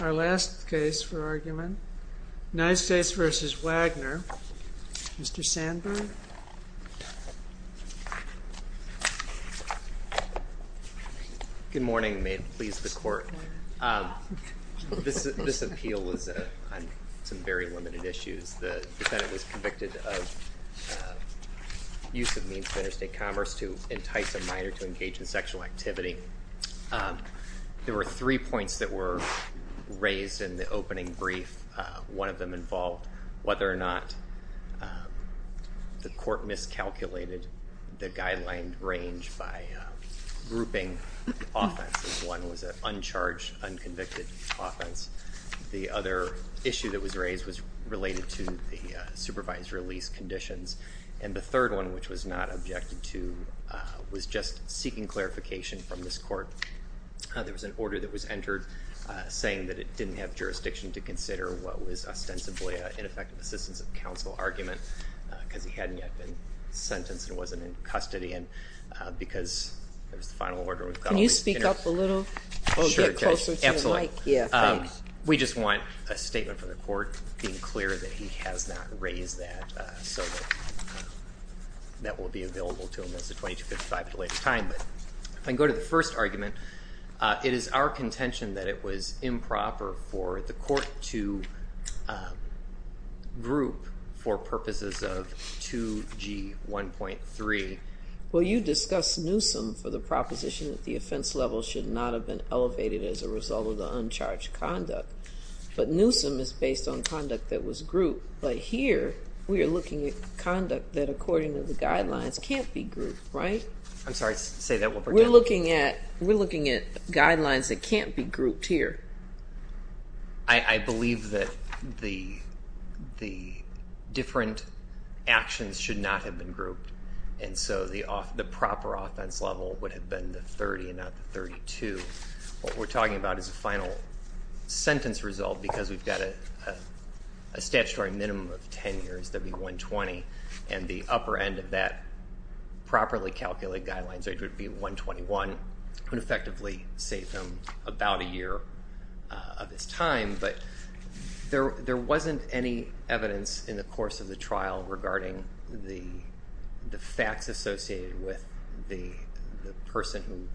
Our last case for argument, United States v. Wagner, Mr. Sandberg. Good morning, and may it please the Court. This appeal was on some very limited issues. The defendant was convicted of use of means of interstate commerce to entice a minor to engage in sexual activity. There were three points that were raised in the opening brief. One of them involved whether or not the Court miscalculated the guideline range by grouping offenses. One was an uncharged, unconvicted offense. The other issue that was raised was related to the supervised release conditions. And the third one, which was not objected to, was just seeking clarification from this Court. There was an order that was entered saying that it didn't have jurisdiction to consider what was ostensibly an ineffective assistance of counsel argument, because he hadn't yet been sentenced and wasn't in custody, and because there was the final order. Can you speak up a little? Sure, Judge. Absolutely. We just want a statement from the Court being clear that he has not raised that, so that that will be available to him as a 2255 at a later time. If I can go to the first argument, it is our contention that it was improper for the Court to group for purposes of 2G1.3. Well, you discussed Newsom for the proposition that the offense level should not have been elevated as a result of the uncharged conduct. But Newsom is based on conduct that was grouped. But here we are looking at conduct that, according to the guidelines, can't be grouped, right? I'm sorry. Say that one more time. We're looking at guidelines that can't be grouped here. And so the proper offense level would have been the 30 and not the 32. What we're talking about is a final sentence result, because we've got a statutory minimum of 10 years, that would be 120. And the upper end of that properly calculated guidelines would be 121. It would effectively save him about a year of his time. But there wasn't any evidence in the course of the trial regarding the facts associated with the person who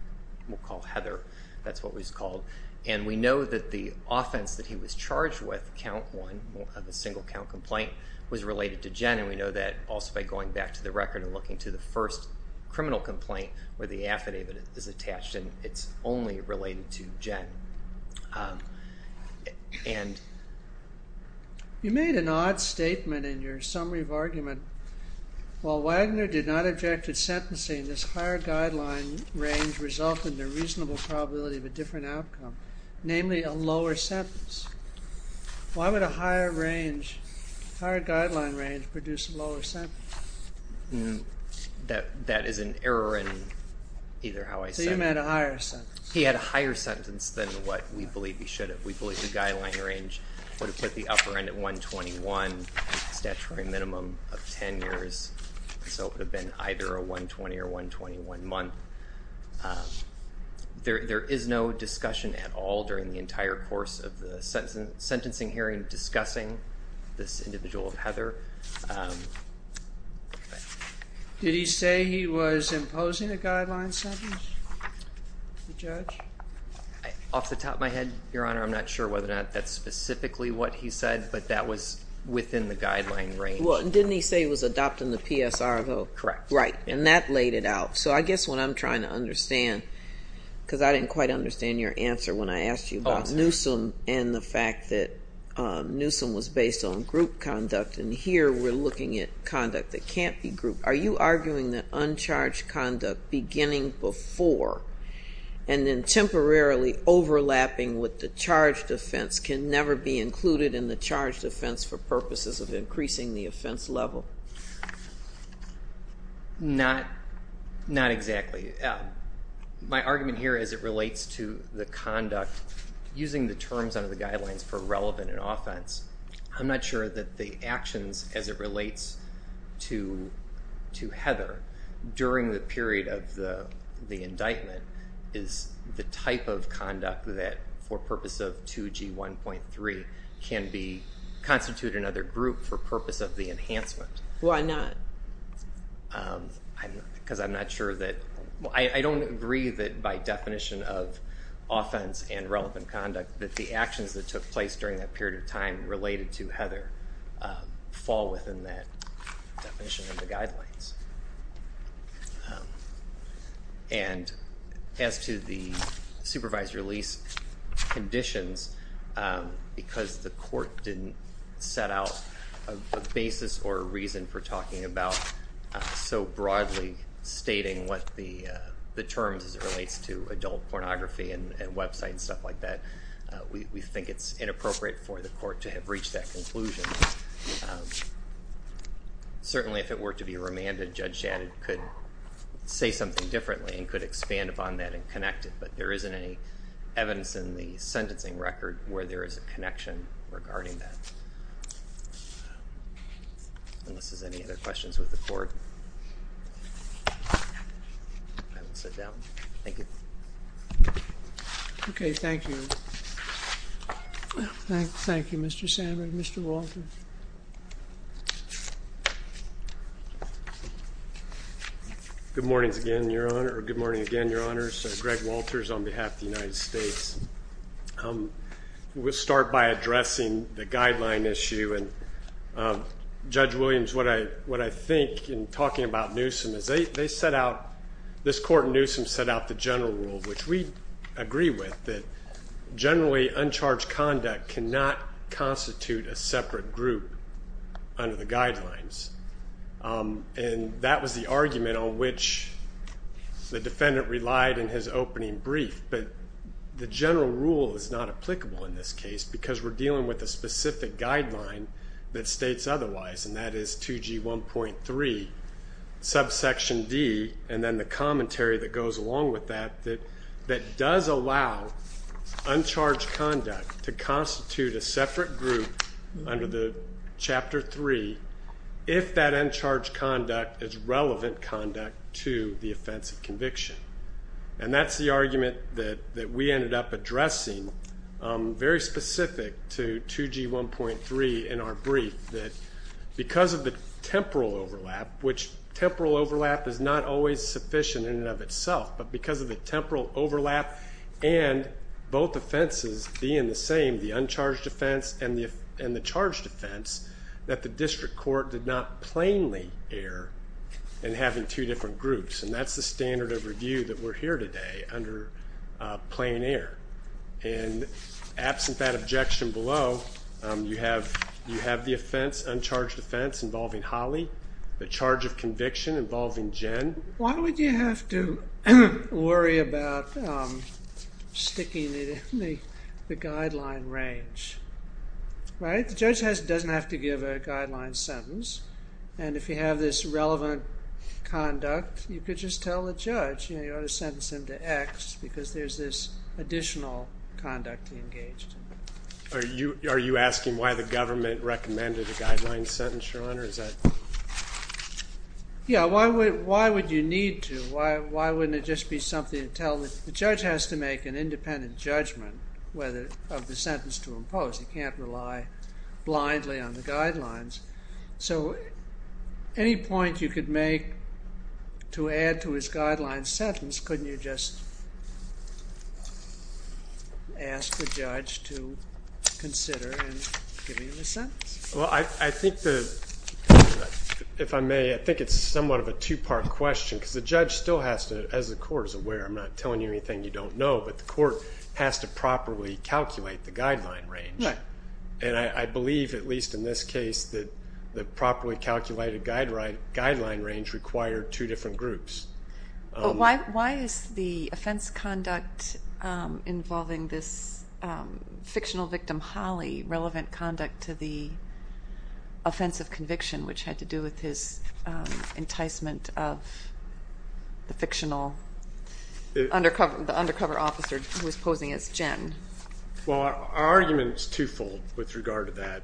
we'll call Heather. That's what he was called. And we know that the offense that he was charged with, count one of a single count complaint, was related to Jen. And we know that also by going back to the record and looking to the first criminal complaint where the affidavit is attached, and it's only related to Jen. You made an odd statement in your summary of argument. While Wagner did not object to sentencing, this higher guideline range resulted in a reasonable probability of a different outcome, namely a lower sentence. Why would a higher guideline range produce a lower sentence? That is an error in either how I said it. So you meant a higher sentence. He had a higher sentence than what we believe he should have. We believe the guideline range would have put the upper end at 121, statutory minimum of 10 years. So it would have been either a 120 or 121 month. There is no discussion at all during the entire course of the sentencing hearing discussing this individual, Heather. Did he say he was imposing a guideline sentence, the judge? Off the top of my head, Your Honor, I'm not sure whether or not that's specifically what he said, but that was within the guideline range. Didn't he say he was adopting the PSR, though? Correct. Right. And that laid it out. So I guess what I'm trying to understand, because I didn't quite understand your answer when I asked you about Newsom and the fact that Newsom was based on group conduct. And here we're looking at conduct that can't be grouped. Are you arguing that uncharged conduct beginning before and then temporarily overlapping with the charged offense can never be included in the charged offense for purposes of increasing the offense level? Not exactly. My argument here is it relates to the conduct using the terms under the guidelines for relevant in offense. I'm not sure that the actions as it relates to Heather during the period of the indictment is the type of conduct that, for purpose of 2G1.3, can constitute another group for purpose of the enhancement. Why not? Because I'm not sure that, I don't agree that by definition of offense and relevant conduct that the actions that took place during that period of time related to Heather fall within that definition of the guidelines. And as to the supervised release conditions, because the court didn't set out a basis or a reason for talking about so broadly stating what the terms as it relates to adult pornography and websites and stuff like that, we think it's inappropriate for the court to have reached that conclusion. Certainly if it were to be remanded, Judge Shannon could say something differently and could expand upon that and connect it, but there isn't any evidence in the sentencing record where there is a connection regarding that. Unless there's any other questions with the court, I will sit down. Thank you. Okay, thank you. Thank you, Mr. Sandberg. Mr. Walters. Good morning again, Your Honor, or good morning again, Your Honors. Greg Walters on behalf of the United States. We'll start by addressing the guideline issue, and Judge Williams, what I think in talking about Newsom is they set out, this court in Newsom set out the general rule, which we agree with, that generally uncharged conduct cannot constitute a separate group under the guidelines. And that was the argument on which the defendant relied in his opening brief, but the general rule is not applicable in this case because we're dealing with a specific guideline that states otherwise, and that is 2G1.3, subsection D, and then the commentary that goes along with that, that does allow uncharged conduct to constitute a separate group under the Chapter 3 if that uncharged conduct is relevant conduct to the offense of conviction. And that's the argument that we ended up addressing, very specific to 2G1.3 in our brief, that because of the temporal overlap, which temporal overlap is not always sufficient in and of itself, but because of the temporal overlap and both offenses being the same, the uncharged offense and the charged offense, that the district court did not plainly err in having two different groups. And that's the standard of review that we're here today, under plain error. And absent that objection below, you have the offense, uncharged offense, involving Holly, the charge of conviction involving Jen. And why would you have to worry about sticking it in the guideline range, right? The judge doesn't have to give a guideline sentence. And if you have this relevant conduct, you could just tell the judge, you know, you ought to sentence him to X because there's this additional conduct he engaged in. Are you asking why the government recommended a guideline sentence, Sean, or is that? Yeah, why would you need to? Why wouldn't it just be something to tell that the judge has to make an independent judgment of the sentence to impose? He can't rely blindly on the guidelines. So any point you could make to add to his guideline sentence, couldn't you just ask the judge to consider and give him a sentence? Well, I think the, if I may, I think it's somewhat of a two-part question because the judge still has to, as the court is aware, I'm not telling you anything you don't know, but the court has to properly calculate the guideline range. And I believe, at least in this case, that the properly calculated guideline range required two different groups. Why is the offense conduct involving this fictional victim, Holly, relevant conduct to the offense of conviction, which had to do with his enticement of the fictional undercover officer who was posing as Jen? Well, our argument is twofold with regard to that.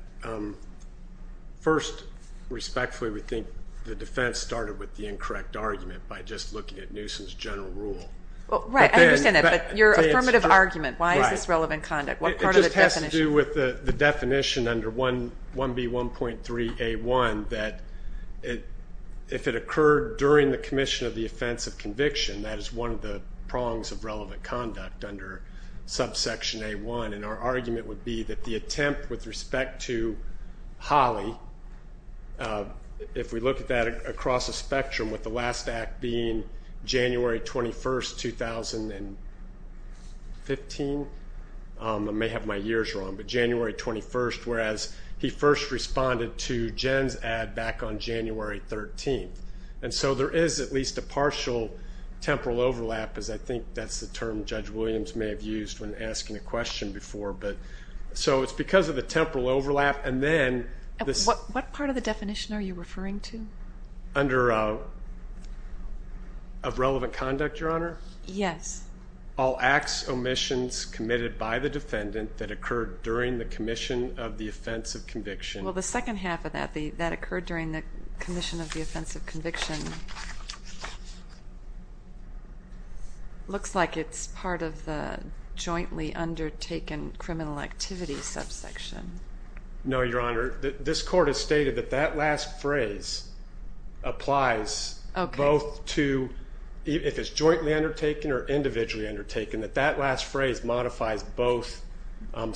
First, respectfully, we think the defense started with the incorrect argument by just looking at Newsom's general rule. Right, I understand that. But your affirmative argument, why is this relevant conduct? What part of the definition? It just has to do with the definition under 1B1.3A1 that if it occurred during the commission of the offense of conviction, that is one of the prongs of relevant conduct under subsection A1. And our argument would be that the attempt with respect to Holly, if we look at that across a spectrum, with the last act being January 21, 2015, I may have my years wrong, but January 21, whereas he first responded to Jen's ad back on January 13. And so there is at least a partial temporal overlap, because I think that's the term Judge Williams may have used when asking a question before. So it's because of the temporal overlap. What part of the definition are you referring to? Of relevant conduct, Your Honor? Yes. All acts, omissions committed by the defendant that occurred during the commission of the offense of conviction. Well, the second half of that, that occurred during the commission of the offense of conviction, looks like it's part of the jointly undertaken criminal activity subsection. No, Your Honor. This court has stated that that last phrase applies both to if it's jointly undertaken or individually undertaken, that that last phrase modifies both subparts of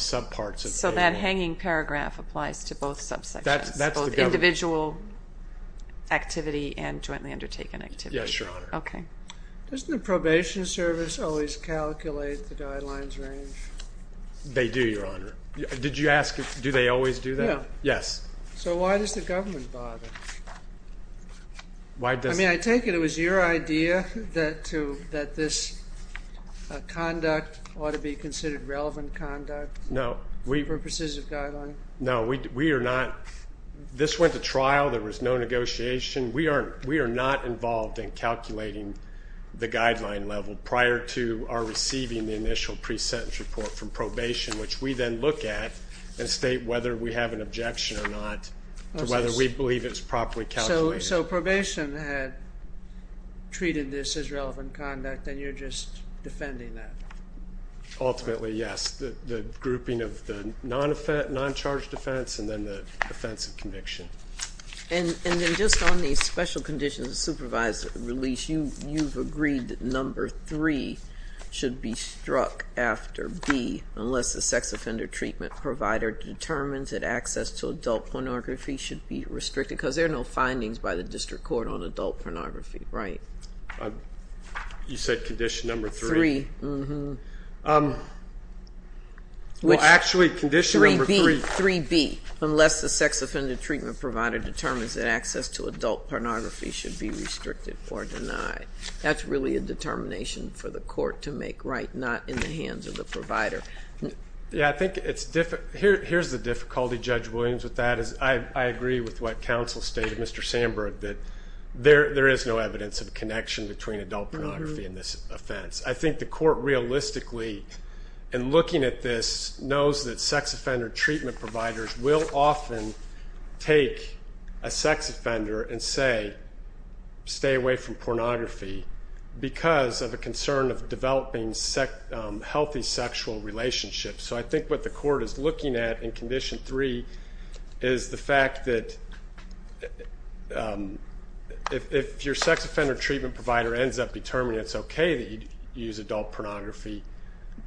the statement. And that hanging paragraph applies to both subsections, both individual activity and jointly undertaken activity. Yes, Your Honor. Okay. Doesn't the probation service always calculate the guidelines range? They do, Your Honor. Did you ask do they always do that? No. Yes. So why does the government bother? I mean, I take it it was your idea that this conduct ought to be considered relevant conduct? No. For purposes of guideline? No. We are not. This went to trial. There was no negotiation. We are not involved in calculating the guideline level prior to our receiving the initial pre-sentence report from probation, which we then look at and state whether we have an objection or not to whether we believe it's properly calculated. So probation had treated this as relevant conduct and you're just defending that? Ultimately, yes. The grouping of the non-charged offense and then the offense of conviction. And then just on the special conditions of supervised release, you've agreed that number three should be struck after B, unless the sex offender treatment provider determines that access to adult pornography should be restricted, because there are no findings by the district court on adult pornography, right? You said condition number three? Three. Well, actually condition number three. 3B, unless the sex offender treatment provider determines that access to adult pornography should be restricted or denied. That's really a determination for the court to make right, not in the hands of the provider. Yeah, I think it's difficult. Here's the difficulty, Judge Williams, with that. I agree with what counsel stated, Mr. Sandberg, that there is no evidence of connection between adult pornography and this offense. I think the court realistically, in looking at this, knows that sex offender treatment providers will often take a sex offender and say, stay away from pornography because of a concern of developing healthy sexual relationships. So I think what the court is looking at in condition three is the fact that if your sex offender treatment provider ends up determining it's okay that you use adult pornography,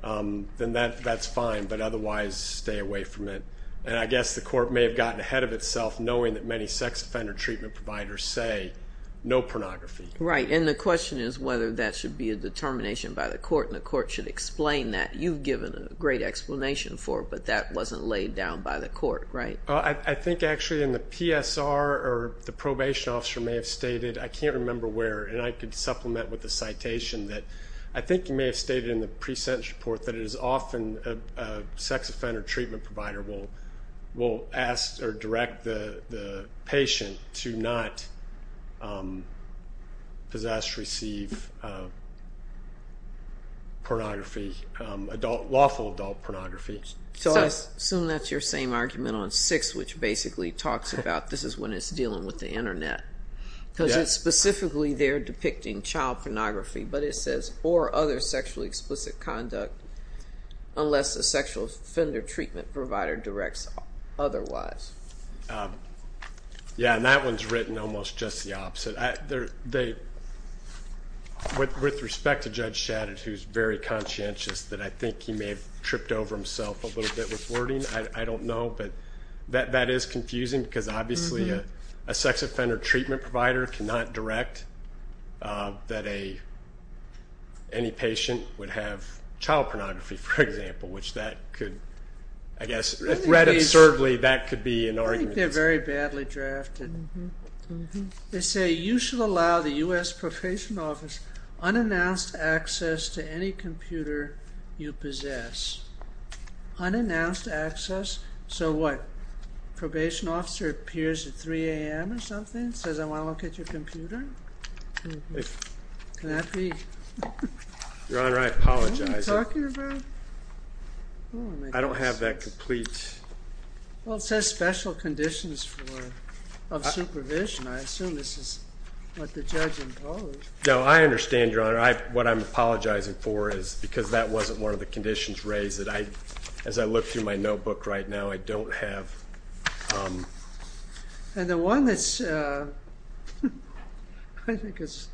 then that's fine, but otherwise stay away from it. And I guess the court may have gotten ahead of itself knowing that many sex offender treatment providers say no pornography. Right, and the question is whether that should be a determination by the court, and the court should explain that. You've given a great explanation for it, but that wasn't laid down by the court, right? I think actually in the PSR, or the probation officer may have stated, I can't remember where, and I could supplement with a citation, that I think you may have stated in the pre-sentence report that it is often a sex offender treatment provider will ask or direct the patient to not possess, receive pornography, lawful adult pornography. So I assume that's your same argument on six, which basically talks about this is when it's dealing with the Internet. Because it's specifically there depicting child pornography, but it says, or other sexually explicit conduct unless a sex offender treatment provider directs otherwise. Yeah, and that one's written almost just the opposite. With respect to Judge Shadid, who's very conscientious, that I think he may have tripped over himself a little bit with wording, I don't know, but that is confusing because obviously a sex offender treatment provider cannot direct that any patient would have child pornography, for example, which that could, I guess, read absurdly, that could be an argument. I think they're very badly drafted. They say you should allow the U.S. Probation Office unannounced access to any computer you possess. Unannounced access? So what, probation officer appears at 3 a.m. or something, says, I want to look at your computer? Can that be? Your Honor, I apologize. What are you talking about? I don't have that complete. Well, it says special conditions of supervision. I assume this is what the judge imposed. No, I understand, Your Honor. What I'm apologizing for is because that wasn't one of the conditions raised that I, as I look through my notebook right now, I don't have. And the one that's, I think it's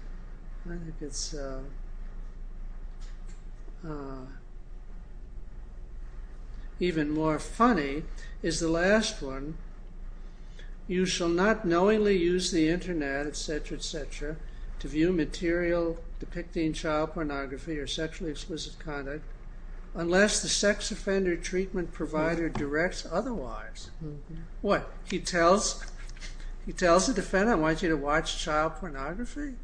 even more funny, is the last one. You shall not knowingly use the Internet, et cetera, et cetera, to view material depicting child pornography or sexually explicit conduct unless the sex offender treatment provider directs otherwise. What? He tells the defendant, I want you to watch child pornography?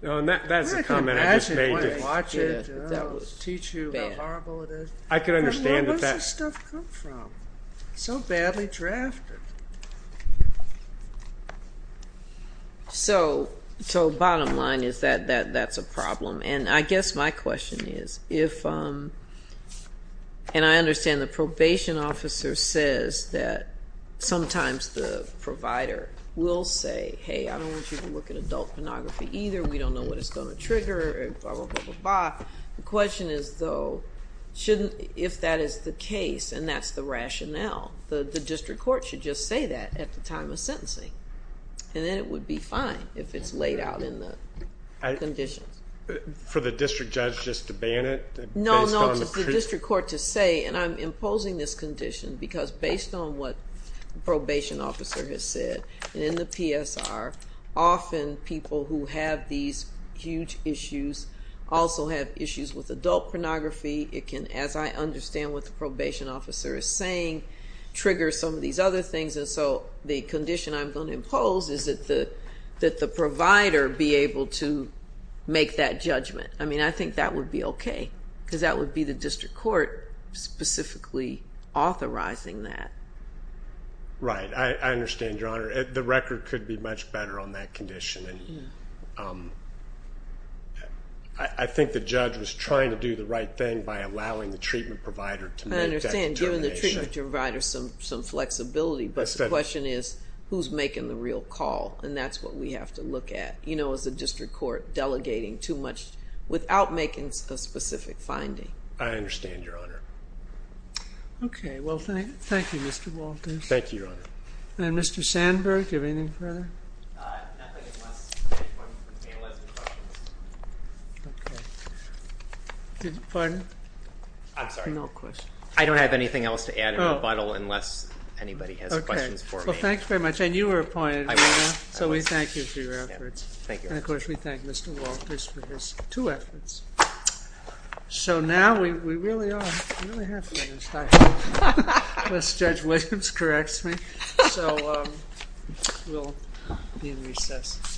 That's a comment I just made. I can't imagine if he wanted to watch it, teach you how horrible it is. I can understand that. Where does this stuff come from? So badly drafted. So bottom line is that that's a problem. And I guess my question is if, and I understand the probation officer says that sometimes the provider will say, hey, I don't want you to look at adult pornography either. We don't know what it's going to trigger, blah, blah, blah, blah, blah. The question is, though, if that is the case and that's the rationale, the district court should just say that at the time of sentencing. And then it would be fine if it's laid out in the conditions. For the district judge just to ban it? No, no, for the district court to say, and I'm imposing this condition because based on what the probation officer has said, and in the PSR, often people who have these huge issues also have issues with adult pornography. It can, as I understand what the probation officer is saying, trigger some of these other things. And so the condition I'm going to impose is that the provider be able to make that judgment. I mean, I think that would be okay because that would be the district court specifically authorizing that. Right, I understand, Your Honor. The record could be much better on that condition. I think the judge was trying to do the right thing by allowing the treatment provider to make that determination. I understand, giving the treatment provider some flexibility. But the question is, who's making the real call? And that's what we have to look at, you know, as a district court, delegating too much without making a specific finding. I understand, Your Honor. Okay. Well, thank you, Mr. Walters. Thank you, Your Honor. And Mr. Sandberg, do you have anything further? Nothing, unless the judge wants me to be able to add some questions. Okay. Pardon? I'm sorry. No questions. I don't have anything else to add in rebuttal unless anybody has questions for me. Okay. Well, thanks very much. And you were appointed, right? I was. So we thank you for your efforts. Thank you. And, of course, we thank Mr. Walters for his two efforts. So now we really are half way. Unless Judge Williams corrects me. So we'll be in recess.